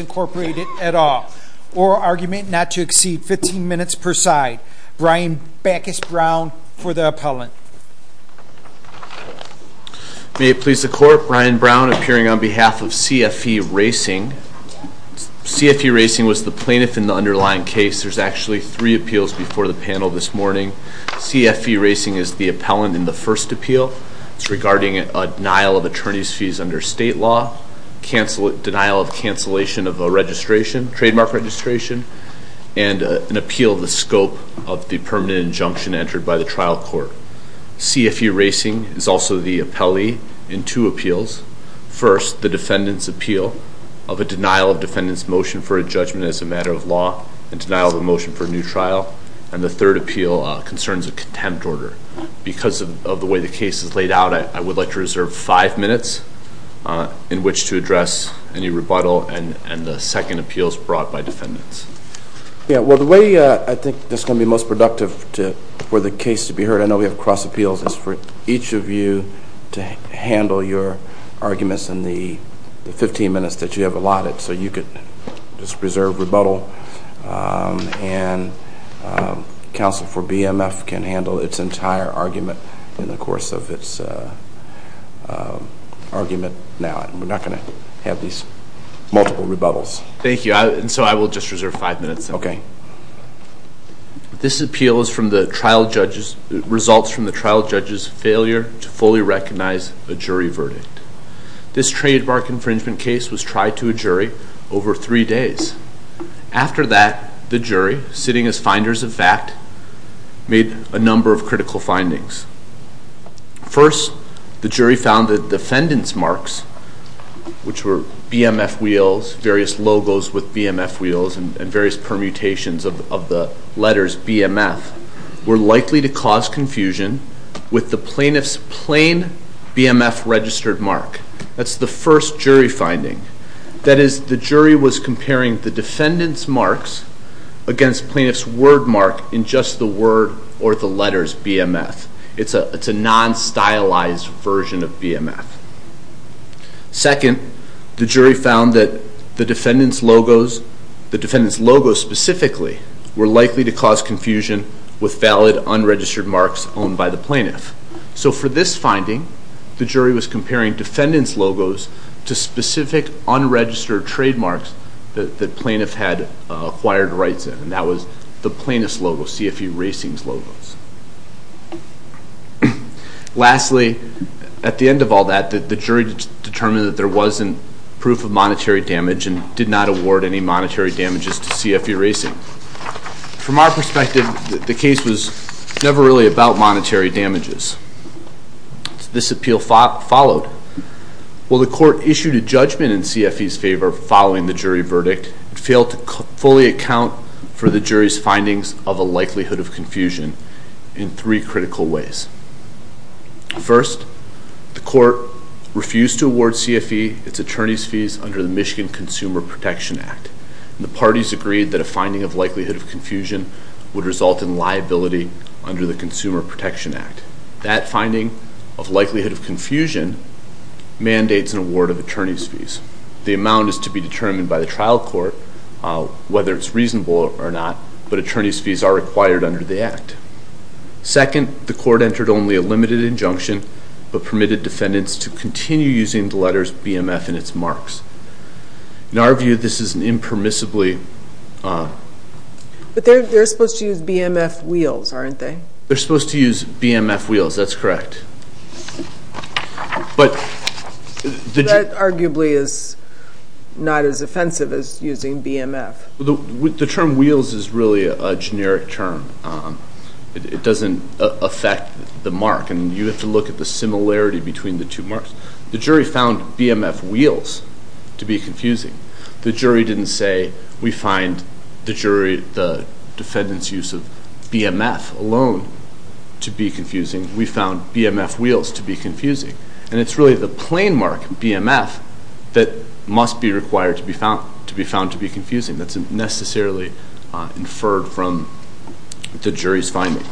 Incorporated at all. Oral argument not to exceed 15 minutes per side. Brian Backus Brown for the appellant. May it please the court Brian Brown appearing on behalf of CFE Racing Products Incorporated at all. CFE Racing was the plaintiff in the underlying case. There's actually three appeals before the panel this morning. CFE Racing is the appellant in the first appeal. It's regarding a denial of attorney's fees under state law. Denial of cancellation of a registration, trademark registration. And an appeal of the scope of the permanent injunction entered by the trial court. CFE Racing is also the appellee in two appeals. First, the defendant's appeal of a denial of defendant's motion for a judgment as a matter of law. And denial of a motion for a new trial. And the third appeal concerns a contempt order. Because of the way the case is laid out, I would like to reserve five minutes in which to address any rebuttal. And the second appeal is brought by defendants. Yeah, well the way I think that's going to be most productive for the case to be heard. I know we have cross appeals. It's for each of you to handle your arguments in the 15 minutes that you have allotted. So you could just reserve rebuttal. And counsel for BMF can handle its entire argument in the course of its argument now. And we're not going to have these multiple rebuttals. Thank you. And so I will just reserve five minutes. This appeal results from the trial judge's failure to fully recognize a jury verdict. This trademark infringement case was tried to a jury over three days. After that, the jury, sitting as finders of fact, made a number of critical findings. First, the jury found that defendants' marks, which were BMF wheels, various logos with BMF wheels, and various permutations of the letters BMF, were likely to cause confusion with the plaintiff's plain BMF registered mark. That's the first jury finding. That is, the jury was comparing the defendant's marks against plaintiff's word mark in just the word or the letters BMF. It's a non-stylized version of BMF. Second, the jury found that the defendant's logos, specifically, were likely to cause confusion with valid unregistered marks owned by the plaintiff. So for this finding, the jury was comparing defendant's logos to specific unregistered trademarks that the plaintiff had acquired rights in, and that was the plaintiff's logo, CFE Racing's logos. Lastly, at the end of all that, the jury determined that there wasn't proof of monetary damage and did not award any monetary damages to CFE Racing. From our perspective, the case was never really about monetary damages. This appeal followed. While the court issued a judgment in CFE's favor following the jury verdict, it failed to fully account for the jury's findings of a likelihood of confusion in three critical ways. First, the court refused to award CFE its attorney's fees under the Michigan Consumer Protection Act. The parties agreed that a finding of likelihood of confusion would result in liability under the Consumer Protection Act. That finding of likelihood of confusion mandates an award of attorney's fees. The amount is to be determined by the trial court whether it's reasonable or not, but attorney's fees are required under the Act. Second, the court entered only a limited injunction, but permitted defendants to continue using the letters BMF and its marks. In our view, this is an impermissibly... But they're supposed to use BMF wheels, aren't they? They're supposed to use BMF wheels, that's correct. But... That arguably is not as offensive as using BMF. The term wheels is really a generic term. It doesn't affect the mark, and you have to look at the similarity between the two marks. The jury found BMF wheels to be confusing. The jury didn't say, we find the defendant's use of BMF alone to be confusing. We found BMF wheels to be confusing. And it's really the plain mark, BMF, that must be required to be found to be confusing. That's necessarily inferred from the jury's finding.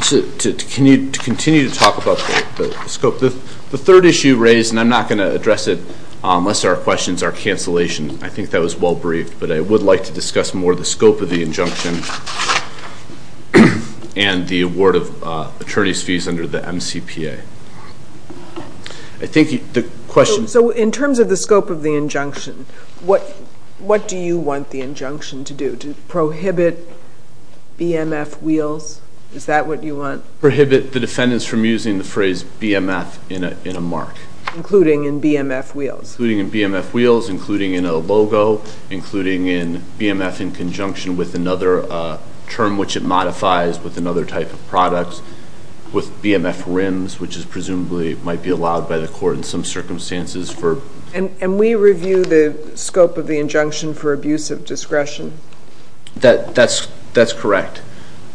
Can you continue to talk about the scope? The third issue raised, and I'm not going to address it unless there are questions, our cancellation, I think that was well-briefed, but I would like to discuss more the scope of the injunction and the award of attorney's fees under the MCPA. I think the question... So in terms of the scope of the injunction, what do you want the injunction to do? Do you want it to prohibit BMF wheels? Is that what you want? Prohibit the defendants from using the phrase BMF in a mark. Including in BMF wheels. Including in BMF wheels, including in a logo, including in BMF in conjunction with another term which it modifies with another type of product, with BMF rims, which presumably might be allowed by the court in some circumstances. And we review the scope of the injunction for abuse of discretion? That's correct.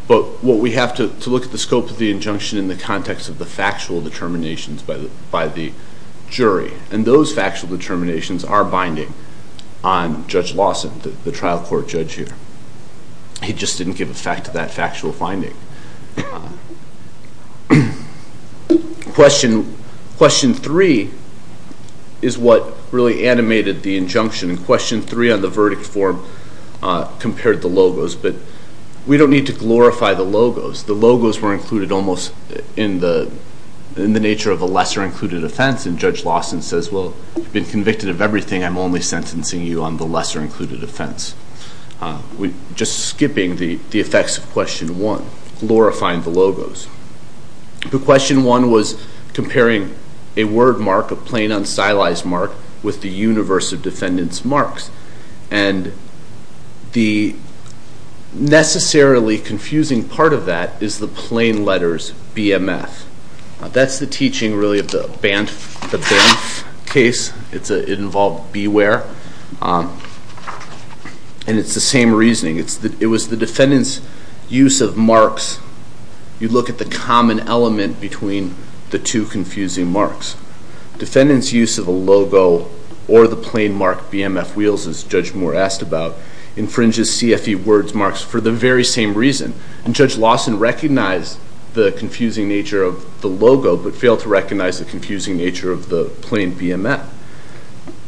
But what we have to look at the scope of the injunction in the context of the factual determinations by the jury, and those factual determinations are binding on Judge Lawson, the trial court judge here. He just didn't give effect to that factual finding. Question three is what really animated the injunction. And question three on the verdict form compared the logos. But we don't need to glorify the logos. The logos were included almost in the nature of a lesser-included offense, and Judge Lawson says, well, you've been convicted of everything. I'm only sentencing you on the lesser-included offense. We're just skipping the effects of question one, glorifying the logos. Question one was comparing a word mark, a plain, unstylized mark, with the universe of defendant's marks. And the necessarily confusing part of that is the plain letters BMF. That's the teaching, really, of the Banff case. It involved beware, and it's the same reasoning. It was the defendant's use of marks. You look at the common element between the two confusing marks. Defendant's use of a logo or the plain mark BMF wheels, as Judge Moore asked about, infringes CFE words marks for the very same reason. And Judge Lawson recognized the confusing nature of the logo but failed to recognize the confusing nature of the plain BMF.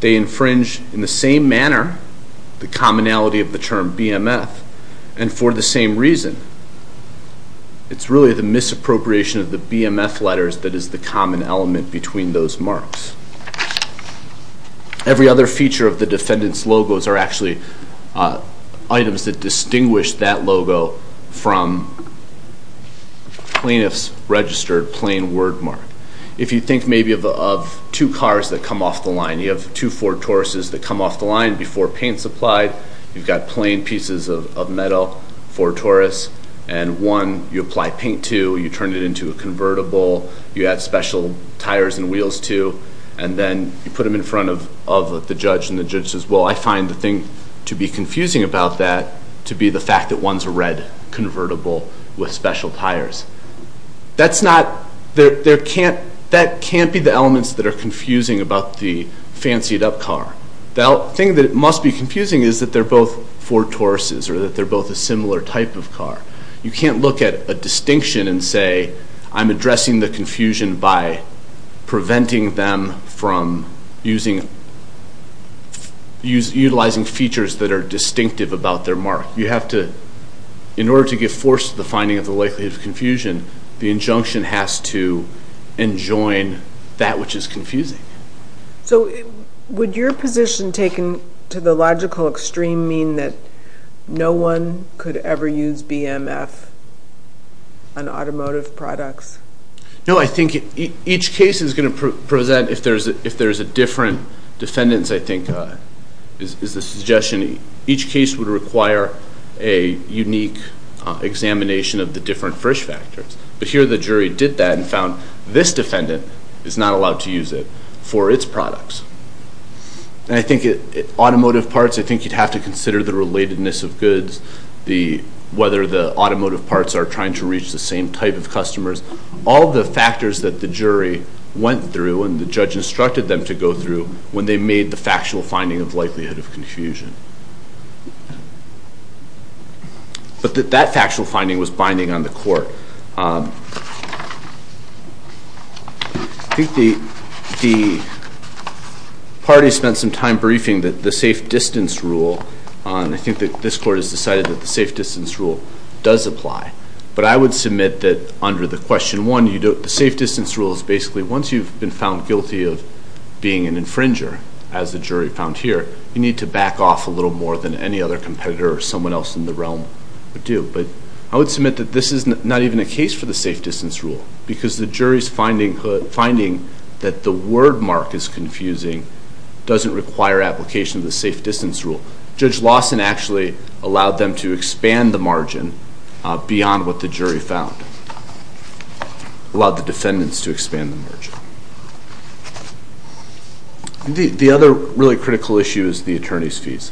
They infringe, in the same manner, the commonality of the term BMF, and for the same reason. It's really the misappropriation of the BMF letters that is the common element between those marks. Every other feature of the defendant's logos are actually items that distinguish that logo from plaintiff's registered plain word mark. If you think maybe of two cars that come off the line, you have two Ford Tauruses that come off the line before paint's applied. You've got plain pieces of metal, Ford Taurus, and one you apply paint to. You turn it into a convertible. You add special tires and wheels to. And then you put them in front of the judge. And the judge says, well, I find the thing to be confusing about that to be the fact that one's a red convertible with special tires. That can't be the elements that are confusing about the fancied-up car. The thing that must be confusing is that they're both Ford Tauruses or that they're both a similar type of car. You can't look at a distinction and say I'm addressing the confusion by preventing them from utilizing features that are distinctive about their mark. You have to, in order to give force to the finding of the likelihood of confusion, the injunction has to enjoin that which is confusing. So would your position, taken to the logical extreme, mean that no one could ever use BMF on automotive products? No, I think each case is going to present, if there's a different defendant, I think is the suggestion. Each case would require a unique examination of the different Frisch factors. But here the jury did that and found this defendant is not allowed to use it for its products. And I think automotive parts, I think you'd have to consider the relatedness of goods, whether the automotive parts are trying to reach the same type of customers. All the factors that the jury went through and the judge instructed them to go through when they made the factual finding of likelihood of confusion. But that factual finding was binding on the court. I think the parties spent some time briefing that the safe distance rule, I think that this court has decided that the safe distance rule does apply. But I would submit that under the question one, the safe distance rule is basically once you've been found guilty of being an infringer, as the jury found here, you need to back off a little more than any other competitor or someone else in the realm would do. But I would submit that this is not even a case for the safe distance rule because the jury's finding that the word mark is confusing doesn't require application of the safe distance rule. Judge Lawson actually allowed them to expand the margin beyond what the jury found, allowed the defendants to expand the margin. The other really critical issue is the attorney's fees.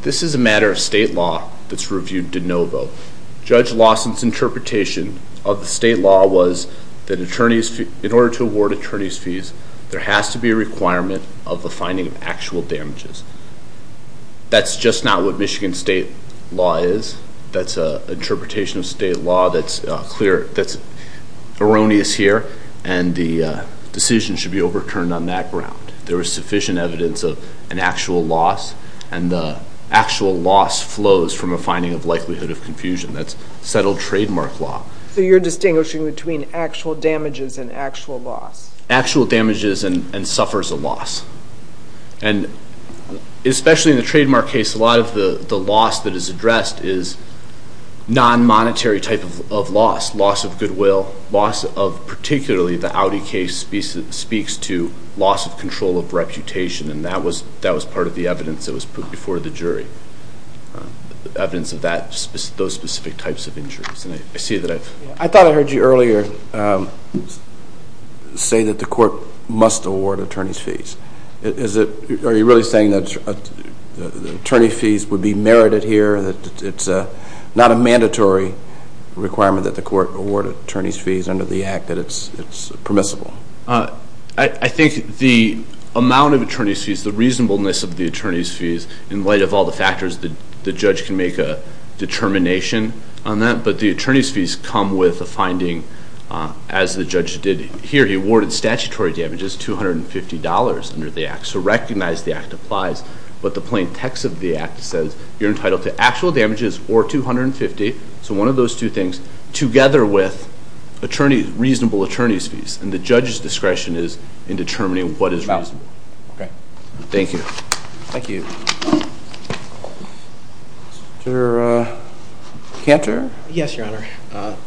This is a matter of state law that's reviewed de novo. Judge Lawson's interpretation of the state law was that in order to award attorney's fees, there has to be a requirement of the finding of actual damages. That's just not what Michigan state law is. That's an interpretation of state law that's clear, that's erroneous here. And the decision should be overturned on that ground. There is sufficient evidence of an actual loss, and the actual loss flows from a finding of likelihood of confusion. That's settled trademark law. So you're distinguishing between actual damages and actual loss? Actual damages and suffers a loss. And especially in the trademark case, a lot of the loss that is addressed is non-monetary type of loss, loss of goodwill, loss of particularly the Audi case speaks to loss of control of reputation, and that was part of the evidence that was put before the jury, evidence of those specific types of injuries. I thought I heard you earlier say that the court must award attorney's fees. Are you really saying that attorney fees would be merited here, that it's not a mandatory requirement that the court award attorney's fees under the Act, that it's permissible? I think the amount of attorney's fees, the reasonableness of the attorney's fees, in light of all the factors, the judge can make a determination on that. But the attorney's fees come with a finding, as the judge did here. He awarded statutory damages $250 under the Act. So recognize the Act applies, but the plain text of the Act says you're entitled to actual damages or $250, so one of those two things, together with reasonable attorney's fees. And the judge's discretion is in determining what is reasonable. Okay. Thank you. Thank you. Mr. Cantor? Yes, Your Honor.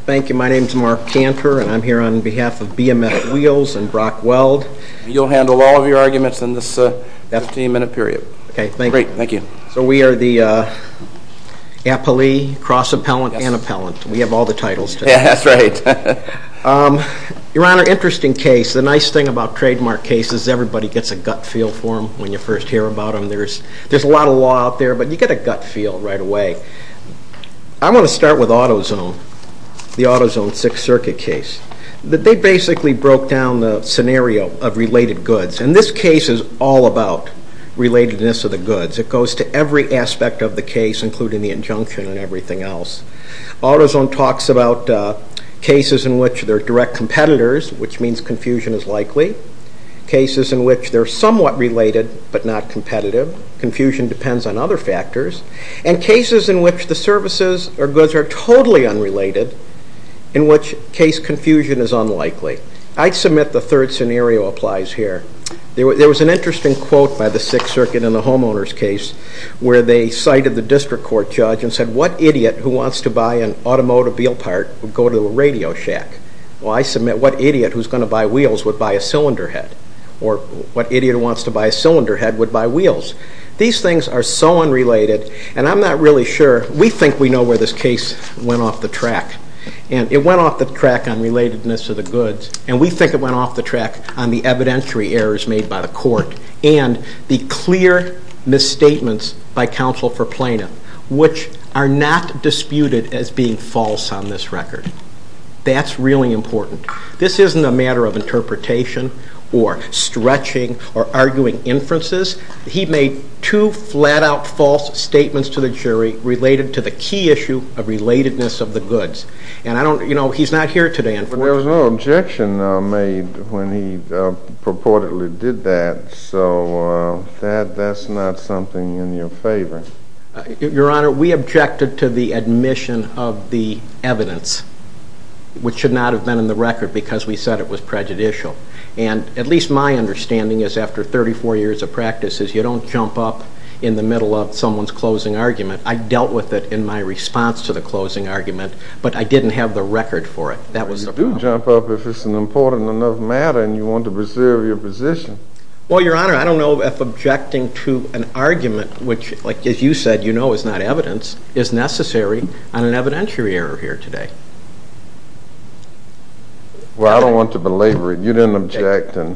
Thank you. My name is Mark Cantor, and I'm here on behalf of BMF Wheels and Brock Weld. You'll handle all of your arguments in this 15-minute period. Okay, thank you. Great, thank you. So we are the appellee, cross-appellant, and appellant. We have all the titles. Yeah, that's right. Your Honor, interesting case. The nice thing about trademark cases is everybody gets a gut feel for them when you first hear about them. There's a lot of law out there, but you get a gut feel right away. I'm going to start with AutoZone, the AutoZone Sixth Circuit case. They basically broke down the scenario of related goods. And this case is all about relatedness of the goods. It goes to every aspect of the case, including the injunction and everything else. AutoZone talks about cases in which there are direct competitors, which means confusion is likely. Cases in which they're somewhat related but not competitive. Confusion depends on other factors. And cases in which the services or goods are totally unrelated, in which case confusion is unlikely. I submit the third scenario applies here. There was an interesting quote by the Sixth Circuit in the homeowner's case where they cited the district court judge and said, what idiot who wants to buy an automobile part would go to a radio shack? Well, I submit what idiot who's going to buy wheels would buy a cylinder head? Or what idiot who wants to buy a cylinder head would buy wheels? These things are so unrelated, and I'm not really sure. We think we know where this case went off the track. And it went off the track on relatedness of the goods. And we think it went off the track on the evidentiary errors made by the court and the clear misstatements by counsel for plaintiff, which are not disputed as being false on this record. That's really important. This isn't a matter of interpretation or stretching or arguing inferences. He made two flat-out false statements to the jury related to the key issue of relatedness of the goods. And he's not here today, unfortunately. There was no objection made when he purportedly did that. So that's not something in your favor. Your Honor, we objected to the admission of the evidence, which should not have been in the record because we said it was prejudicial. And at least my understanding is after 34 years of practice is you don't jump up in the middle of someone's closing argument. I dealt with it in my response to the closing argument, but I didn't have the record for it. You do jump up if it's an important enough matter and you want to preserve your position. Well, Your Honor, I don't know if objecting to an argument, which, as you said, you know is not evidence, is necessary on an evidentiary error here today. Well, I don't want to belabor it. You didn't object. I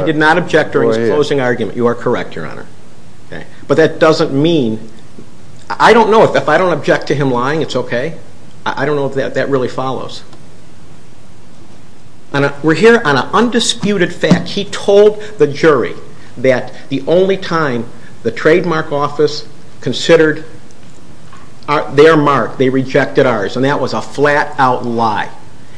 did not object during his closing argument. You are correct, Your Honor. But that doesn't mean – I don't know. If I don't object to him lying, it's okay. I don't know if that really follows. We're here on an undisputed fact. He told the jury that the only time the trademark office considered their mark, they rejected ours. And that was a flat-out lie.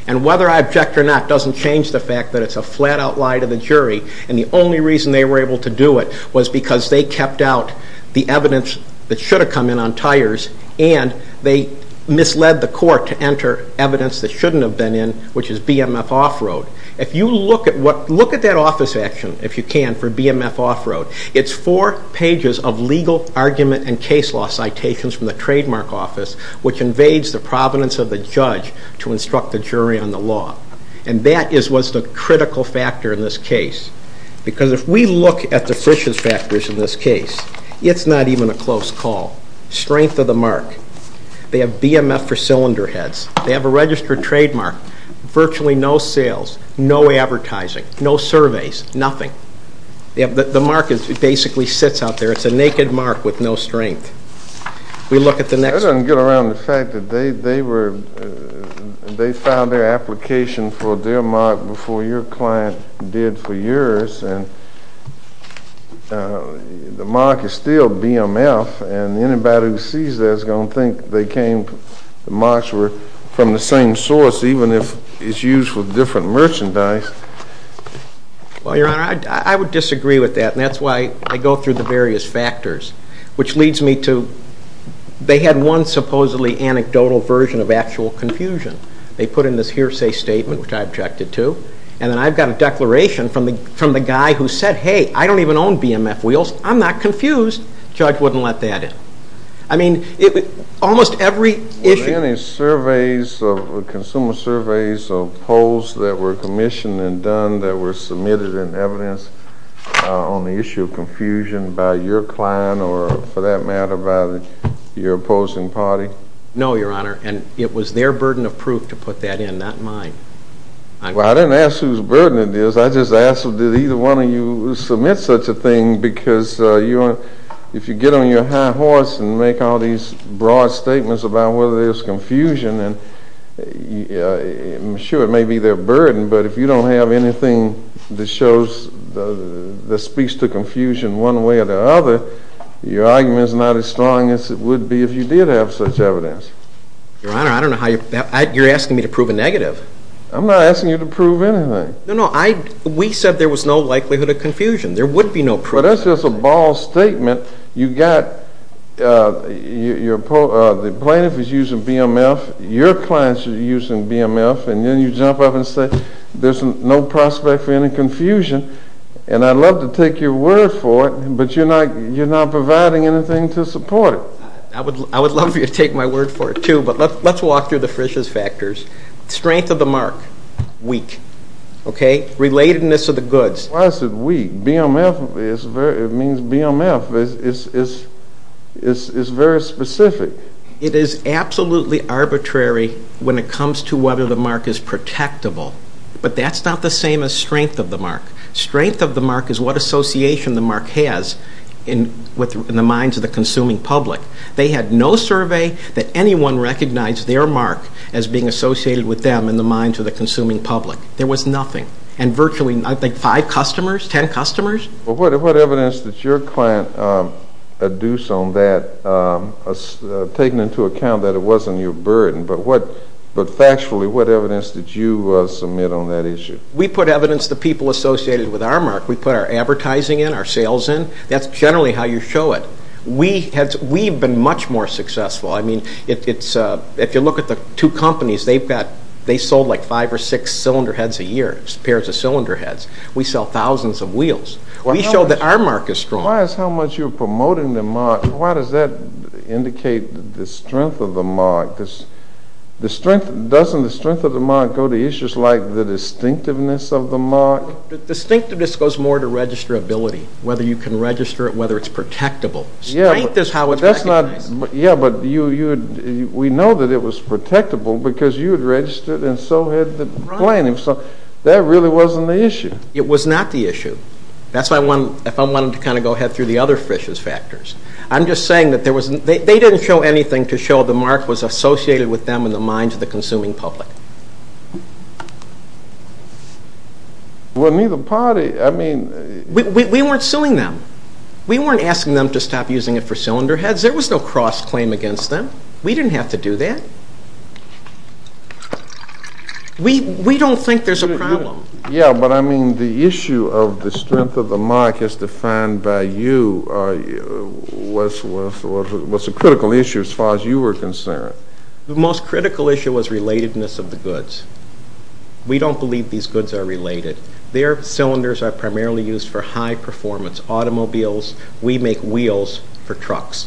And whether I object or not doesn't change the fact that it's a flat-out lie to the jury. And the only reason they were able to do it was because they kept out the evidence that should have come in on tires and they misled the court to enter evidence that shouldn't have been in, which is BMF off-road. If you look at what – look at that office action, if you can, for BMF off-road. It's four pages of legal argument and case law citations from the trademark office, which invades the providence of the judge to instruct the jury on the law. And that is what's the critical factor in this case. Because if we look at the fishes factors in this case, it's not even a close call. Strength of the mark. They have BMF for cylinder heads. They have a registered trademark. Virtually no sales, no advertising, no surveys, nothing. The mark basically sits out there. It's a naked mark with no strength. We look at the next one. That doesn't get around the fact that they were – they filed their application for their mark before your client did for yours. And the mark is still BMF. And anybody who sees that is going to think they came – the marks were from the same source, even if it's used for different merchandise. Well, Your Honor, I would disagree with that, and that's why I go through the various factors, which leads me to they had one supposedly anecdotal version of actual confusion. They put in this hearsay statement, which I objected to, and then I've got a declaration from the guy who said, hey, I don't even own BMF wheels. I'm not confused. The judge wouldn't let that in. I mean, almost every issue – Were there any surveys, consumer surveys or polls that were commissioned and done that were submitted in evidence on the issue of confusion by your client or, for that matter, by your opposing party? No, Your Honor, and it was their burden of proof to put that in, not mine. Well, I didn't ask whose burden it is. I just asked, did either one of you submit such a thing? Because if you get on your high horse and make all these broad statements about whether there's confusion, I'm sure it may be their burden, but if you don't have anything that speaks to confusion one way or the other, your argument is not as strong as it would be if you did have such evidence. Your Honor, I don't know how you – you're asking me to prove a negative. I'm not asking you to prove anything. No, no, I – we said there was no likelihood of confusion. There would be no proof. Well, that's just a ball statement. You got – the plaintiff is using BMF, your clients are using BMF, and then you jump up and say there's no prospect for any confusion, and I'd love to take your word for it, but you're not providing anything to support it. I would love for you to take my word for it, too, but let's walk through the Frisch's factors. Strength of the mark, weak. Okay? Relatedness of the goods. Why is it weak? BMF is very – it means BMF is very specific. It is absolutely arbitrary when it comes to whether the mark is protectable, but that's not the same as strength of the mark. Strength of the mark is what association the mark has in the minds of the consuming public. They had no survey that anyone recognized their mark as being associated with them in the minds of the consuming public. There was nothing. And virtually, I think, five customers, ten customers. Well, what evidence did your client adduce on that, taking into account that it wasn't your burden? But what – but factually, what evidence did you submit on that issue? We put evidence the people associated with our mark. We put our advertising in, our sales in. That's generally how you show it. We've been much more successful. I mean, if you look at the two companies, they've got – they sold like five or six cylinder heads a year, pairs of cylinder heads. We sell thousands of wheels. We show that our mark is strong. Why is how much you're promoting the mark – why does that indicate the strength of the mark? Doesn't the strength of the mark go to issues like the distinctiveness of the mark? The distinctiveness goes more to registrability, whether you can register it, or whether it's protectable. Strength is how it's recognized. Yeah, but you – we know that it was protectable because you had registered and so had the plaintiff. So that really wasn't the issue. It was not the issue. That's why I wanted – if I wanted to kind of go ahead through the other fishes factors. I'm just saying that there was – they didn't show anything to show the mark was associated with them in the minds of the consuming public. Well, neither party – I mean – we weren't suing them. We weren't asking them to stop using it for cylinder heads. There was no cross-claim against them. We didn't have to do that. We don't think there's a problem. Yeah, but I mean the issue of the strength of the mark as defined by you was a critical issue as far as you were concerned. The most critical issue was relatedness of the goods. We don't believe these goods are related. Their cylinders are primarily used for high-performance automobiles. We make wheels for trucks.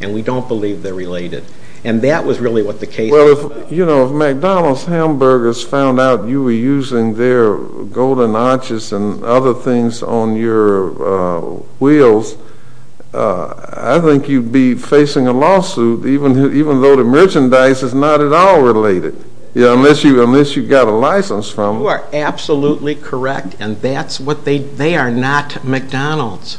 And we don't believe they're related. And that was really what the case was. You know, if McDonald's hamburgers found out you were using their golden arches and other things on your wheels, I think you'd be facing a lawsuit, even though the merchandise is not at all related, unless you got a license from them. You are absolutely correct, and that's what they – they are not McDonald's.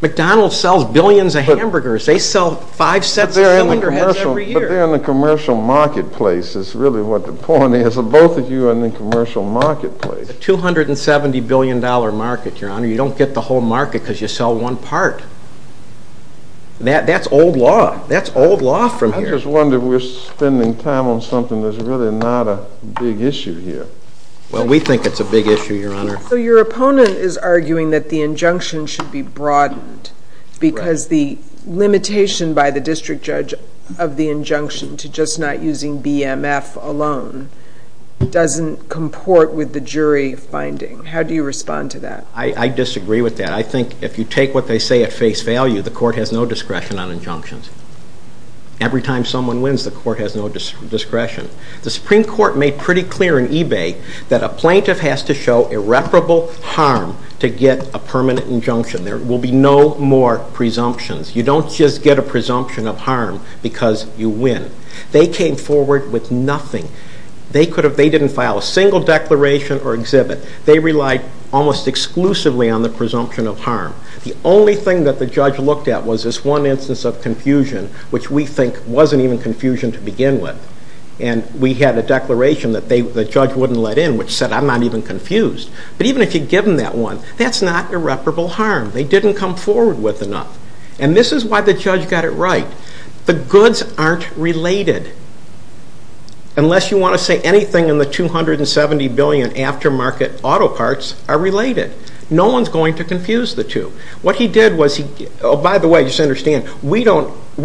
McDonald's sells billions of hamburgers. They sell five sets of cylinder heads every year. But they're in the commercial marketplace is really what the point is. Both of you are in the commercial marketplace. It's a $270 billion market, Your Honor. You don't get the whole market because you sell one part. That's old law. That's old law from here. I just wonder if we're spending time on something that's really not a big issue here. Well, we think it's a big issue, Your Honor. So your opponent is arguing that the injunction should be broadened because the limitation by the district judge of the injunction to just not using BMF alone doesn't comport with the jury finding. How do you respond to that? I disagree with that. I think if you take what they say at face value, the court has no discretion on injunctions. Every time someone wins, the court has no discretion. The Supreme Court made pretty clear in eBay that a plaintiff has to show irreparable harm to get a permanent injunction. There will be no more presumptions. You don't just get a presumption of harm because you win. They came forward with nothing. They didn't file a single declaration or exhibit. They relied almost exclusively on the presumption of harm. The only thing that the judge looked at was this one instance of confusion, which we think wasn't even confusion to begin with. And we had a declaration that the judge wouldn't let in, which said, I'm not even confused. But even if you'd given that one, that's not irreparable harm. They didn't come forward with enough. And this is why the judge got it right. The goods aren't related. Unless you want to say anything in the 270 billion aftermarket auto parts are related. No one's going to confuse the two. What he did was, by the way, just understand, we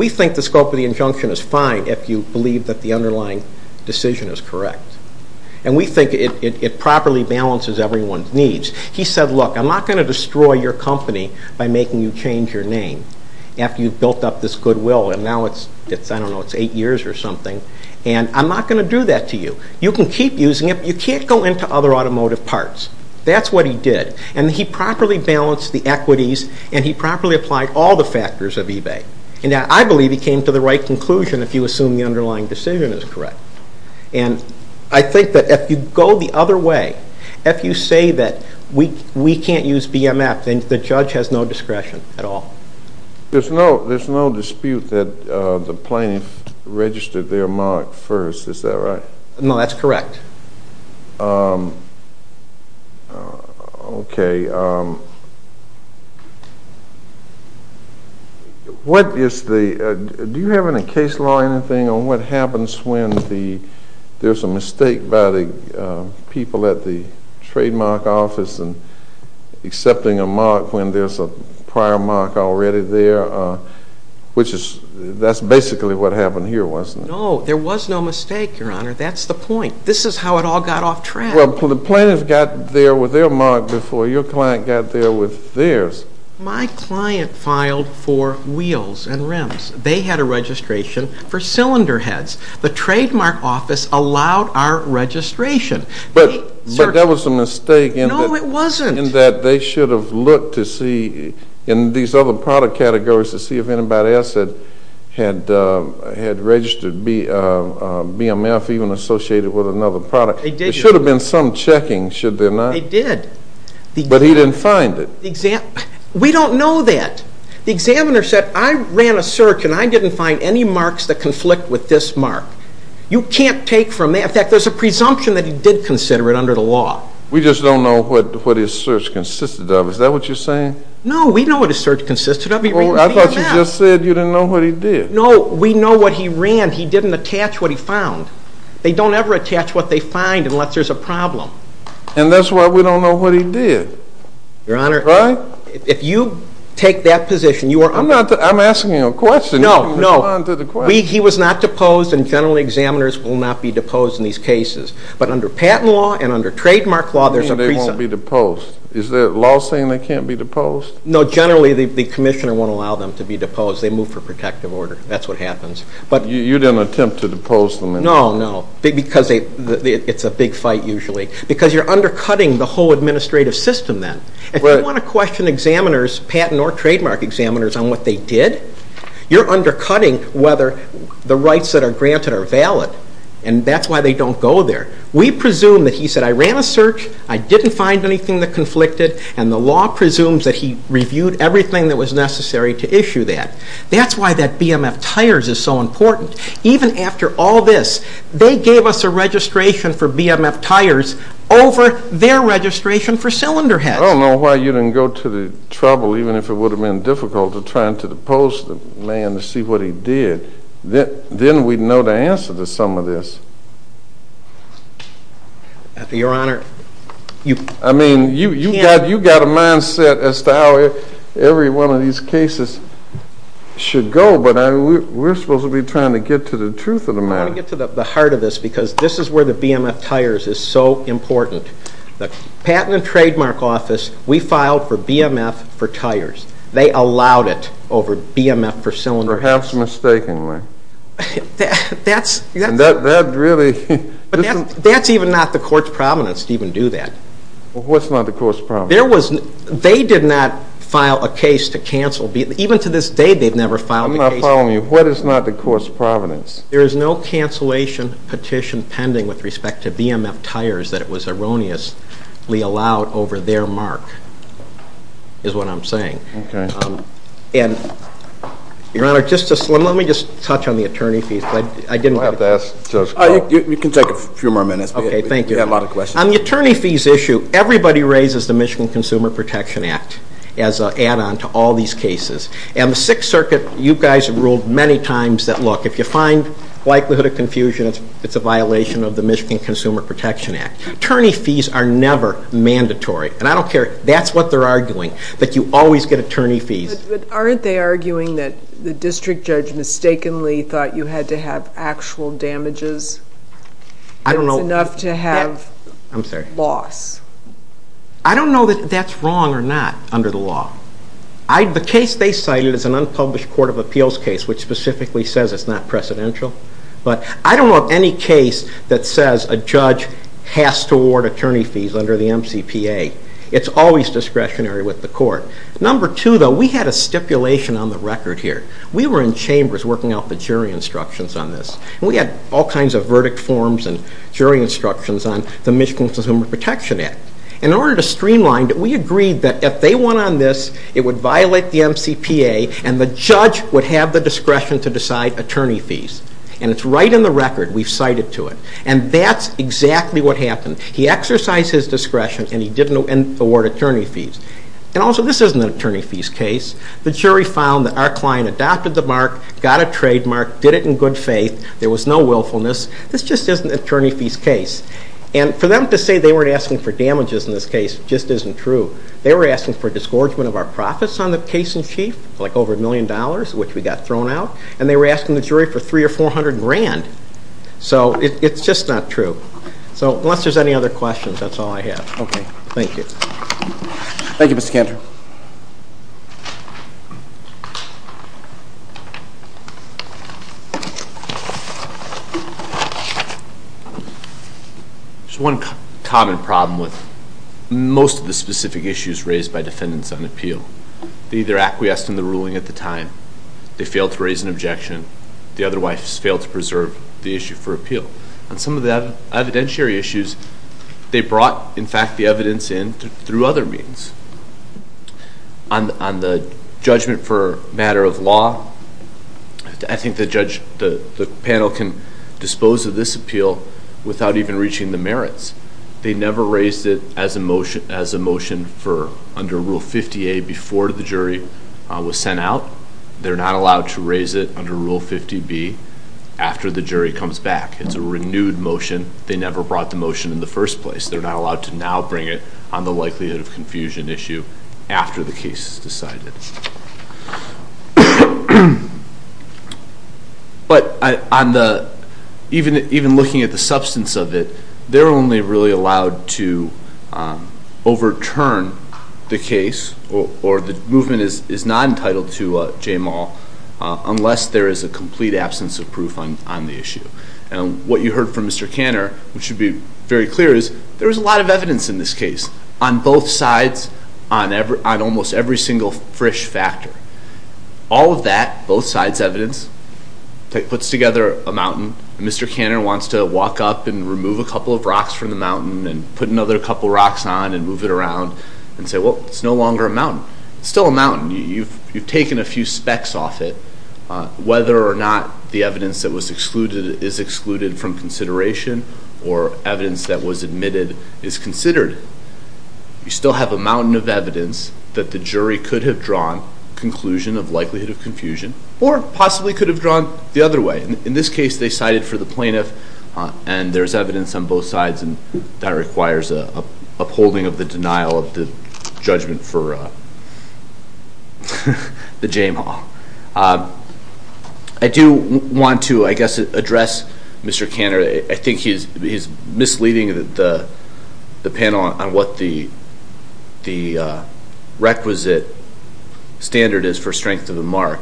think the scope of the injunction is fine if you believe that the underlying decision is correct. And we think it properly balances everyone's needs. He said, look, I'm not going to destroy your company by making you change your name after you've built up this goodwill, and now it's, I don't know, it's eight years or something, and I'm not going to do that to you. You can keep using it, but you can't go into other automotive parts. That's what he did. And he properly balanced the equities, and he properly applied all the factors of eBay. And I believe he came to the right conclusion if you assume the underlying decision is correct. And I think that if you go the other way, if you say that we can't use BMF, then the judge has no discretion at all. There's no dispute that the plaintiff registered their mark first, is that right? No, that's correct. Okay. Do you have in the case law anything on what happens when there's a mistake by the people at the trademark office in accepting a mark when there's a prior mark already there? That's basically what happened here, wasn't it? That's the point. This is how it all got off track. Well, the plaintiff got there with their mark before your client got there with theirs. My client filed for wheels and rims. They had a registration for cylinder heads. The trademark office allowed our registration. But that was a mistake. No, it wasn't. In that they should have looked to see in these other product categories to see if anybody else had registered BMF even associated with another product. There should have been some checking, should there not? They did. But he didn't find it. We don't know that. The examiner said, I ran a search, and I didn't find any marks that conflict with this mark. You can't take from that. In fact, there's a presumption that he did consider it under the law. We just don't know what his search consisted of. Is that what you're saying? No, we know what his search consisted of. I thought you just said you didn't know what he did. No, we know what he ran. He didn't attach what he found. They don't ever attach what they find unless there's a problem. And that's why we don't know what he did. Your Honor, if you take that position, you are under- I'm asking you a question. No, no. He was not deposed, and general examiners will not be deposed in these cases. But under patent law and under trademark law, there's a presumption. What do you mean they won't be deposed? Is the law saying they can't be deposed? No, generally the commissioner won't allow them to be deposed. They move for protective order. That's what happens. You didn't attempt to depose them? No, no, because it's a big fight usually. Because you're undercutting the whole administrative system then. If you want to question examiners, patent or trademark examiners, on what they did, you're undercutting whether the rights that are granted are valid. And that's why they don't go there. We presume that he said, I ran a search, I didn't find anything that conflicted, and the law presumes that he reviewed everything that was necessary to issue that. That's why that BMF tires is so important. Even after all this, they gave us a registration for BMF tires over their registration for cylinder heads. I don't know why you didn't go to the trouble, even if it would have been difficult, of trying to depose the man to see what he did. Then we'd know the answer to some of this. Your Honor. I mean, you've got a mindset as to how every one of these cases should go, but we're supposed to be trying to get to the truth of the matter. I want to get to the heart of this because this is where the BMF tires is so important. The Patent and Trademark Office, we filed for BMF for tires. They allowed it over BMF for cylinder heads. Perhaps mistakenly. That's even not the court's providence to even do that. What's not the court's providence? They did not file a case to cancel. Even to this day, they've never filed a case. I'm not following you. What is not the court's providence? There is no cancellation petition pending with respect to BMF tires that it was erroneously allowed over their mark, is what I'm saying. Your Honor, let me just touch on the attorney fees. You can take a few more minutes. Okay, thank you. We have a lot of questions. On the attorney fees issue, everybody raises the Michigan Consumer Protection Act as an add-on to all these cases. And the Sixth Circuit, you guys have ruled many times that, look, if you find likelihood of confusion, it's a violation of the Michigan Consumer Protection Act. Attorney fees are never mandatory. And I don't care. That's what they're arguing, that you always get attorney fees. But aren't they arguing that the district judge mistakenly thought you had to have actual damages? I don't know. It's enough to have loss. I don't know that that's wrong or not under the law. The case they cited is an unpublished court of appeals case, which specifically says it's not precedential. But I don't know of any case that says a judge has to award attorney fees under the MCPA. It's always discretionary with the court. Number two, though, we had a stipulation on the record here. We were in chambers working out the jury instructions on this. We had all kinds of verdict forms and jury instructions on the Michigan Consumer Protection Act. In order to streamline, we agreed that if they won on this, it would violate the MCPA, and the judge would have the discretion to decide attorney fees. And it's right in the record. We've cited to it. And that's exactly what happened. He exercised his discretion, and he didn't award attorney fees. And also, this isn't an attorney fees case. The jury found that our client adopted the mark, got a trademark, did it in good faith. There was no willfulness. This just isn't an attorney fees case. And for them to say they weren't asking for damages in this case just isn't true. They were asking for disgorgement of our profits on the case in chief, like over $1 million, which we got thrown out. And they were asking the jury for $300,000 or $400,000. So it's just not true. So unless there's any other questions, that's all I have. Okay, thank you. Thank you, Mr. Cantor. Thank you. There's one common problem with most of the specific issues raised by defendants on appeal. They either acquiesced in the ruling at the time, they failed to raise an objection, the otherwise failed to preserve the issue for appeal. On some of the evidentiary issues, they brought, in fact, the evidence in through other means. On the judgment for matter of law, I think the panel can dispose of this appeal without even reaching the merits. They never raised it as a motion under Rule 50A before the jury was sent out. They're not allowed to raise it under Rule 50B after the jury comes back. It's a renewed motion. They never brought the motion in the first place. They're not allowed to now bring it on the likelihood of confusion issue after the case is decided. But even looking at the substance of it, they're only really allowed to overturn the case or the movement is not entitled to J-Mal unless there is a complete absence of proof on the issue. And what you heard from Mr. Cantor, which should be very clear, is there is a lot of evidence in this case on both sides, on almost every single Frisch factor. All of that, both sides' evidence, puts together a mountain. And Mr. Cantor wants to walk up and remove a couple of rocks from the mountain and put another couple of rocks on and move it around and say, well, it's no longer a mountain. It's still a mountain. You've taken a few specks off it. Whether or not the evidence that was excluded is excluded from consideration or evidence that was admitted is considered, you still have a mountain of evidence that the jury could have drawn a conclusion of likelihood of confusion or possibly could have drawn the other way. In this case, they cited for the plaintiff, and there's evidence on both sides, and that requires upholding of the denial of the judgment for the J-Mal. I do want to, I guess, address Mr. Cantor. I think he's misleading the panel on what the requisite standard is for strength of a mark.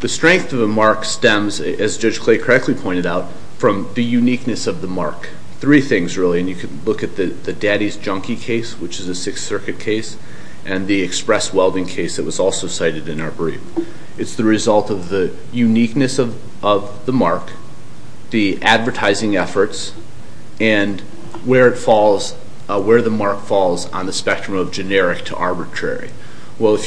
The strength of a mark stems, as Judge Clay correctly pointed out, from the uniqueness of the mark. Three things, really. And you can look at the Daddy's Junkie case, which is a Sixth Circuit case, and the Express Welding case that was also cited in our brief. It's the result of the uniqueness of the mark, the advertising efforts, and where the mark falls on the spectrum of generic to arbitrary. Well,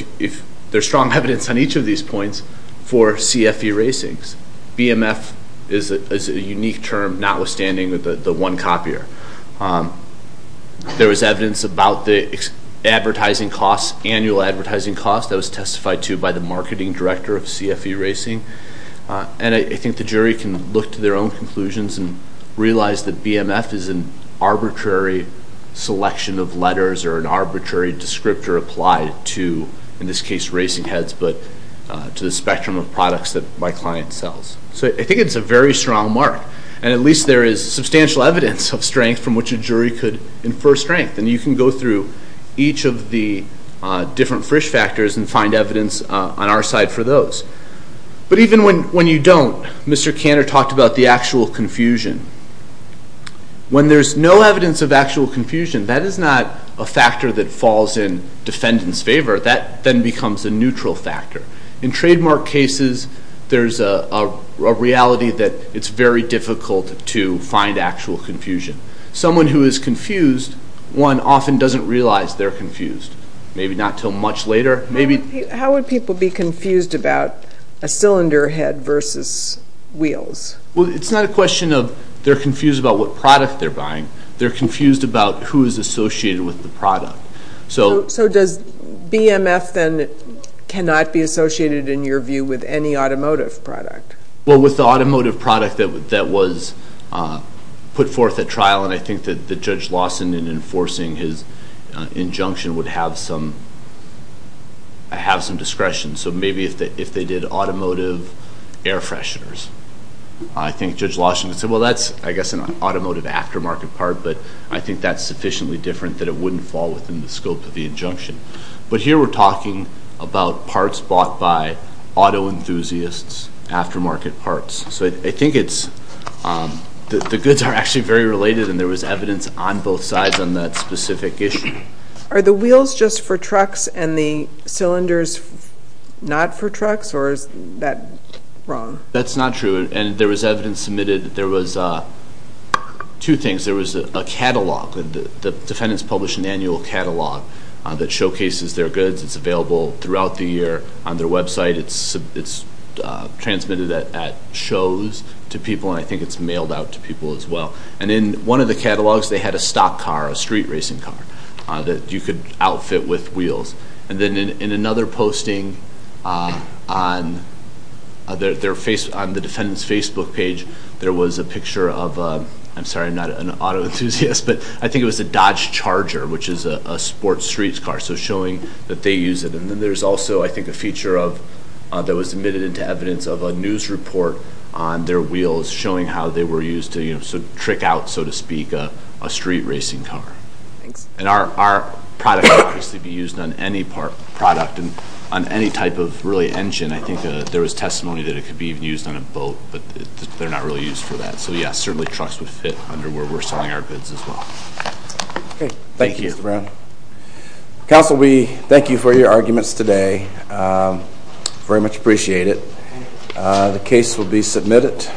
there's strong evidence on each of these points for CFE racings. BMF is a unique term, notwithstanding the one copier. There was evidence about the advertising costs, annual advertising costs, that was testified to by the marketing director of CFE Racing. And I think the jury can look to their own conclusions and realize that BMF is an arbitrary selection of letters or an arbitrary descriptor applied to, in this case, racing heads, but to the spectrum of products that my client sells. So I think it's a very strong mark. And at least there is substantial evidence of strength from which a jury could infer strength. And you can go through each of the different Frisch factors and find evidence on our side for those. But even when you don't, Mr. Cantor talked about the actual confusion. When there's no evidence of actual confusion, that is not a factor that falls in defendant's favor. That then becomes a neutral factor. In trademark cases, there's a reality that it's very difficult to find actual confusion. Someone who is confused, one often doesn't realize they're confused. Maybe not until much later. How would people be confused about a cylinder head versus wheels? Well, it's not a question of they're confused about what product they're buying. They're confused about who is associated with the product. So does BMF then cannot be associated, in your view, with any automotive product? Well, with the automotive product that was put forth at trial, and I think that Judge Lawson, in enforcing his injunction, would have some discretion. So maybe if they did automotive air fresheners, I think Judge Lawson would say, well, that's, I guess, an automotive aftermarket part, but I think that's sufficiently different that it wouldn't fall within the scope of the injunction. But here we're talking about parts bought by auto enthusiasts, aftermarket parts. So I think it's, the goods are actually very related, and there was evidence on both sides on that specific issue. Are the wheels just for trucks and the cylinders not for trucks, or is that wrong? That's not true. And there was evidence submitted, there was two things. There was a catalog, the defendants published an annual catalog that showcases their goods. It's available throughout the year on their website. It's transmitted at shows to people, and I think it's mailed out to people as well. And in one of the catalogs, they had a stock car, a street racing car, that you could outfit with wheels. And then in another posting on the defendant's Facebook page, there was a picture of, I'm sorry, I'm not an auto enthusiast, but I think it was a Dodge Charger, which is a sports street car, so showing that they use it. And then there's also, I think, a feature that was submitted into evidence of a news report on their wheels showing how they were used to trick out, so to speak, a street racing car. And our product would obviously be used on any product and on any type of really engine. I think there was testimony that it could be used on a boat, but they're not really used for that. So yes, certainly trucks would fit under where we're selling our goods as well. Thank you, Mr. Brown. Counsel, we thank you for your arguments today. Very much appreciate it. The case will be submitted.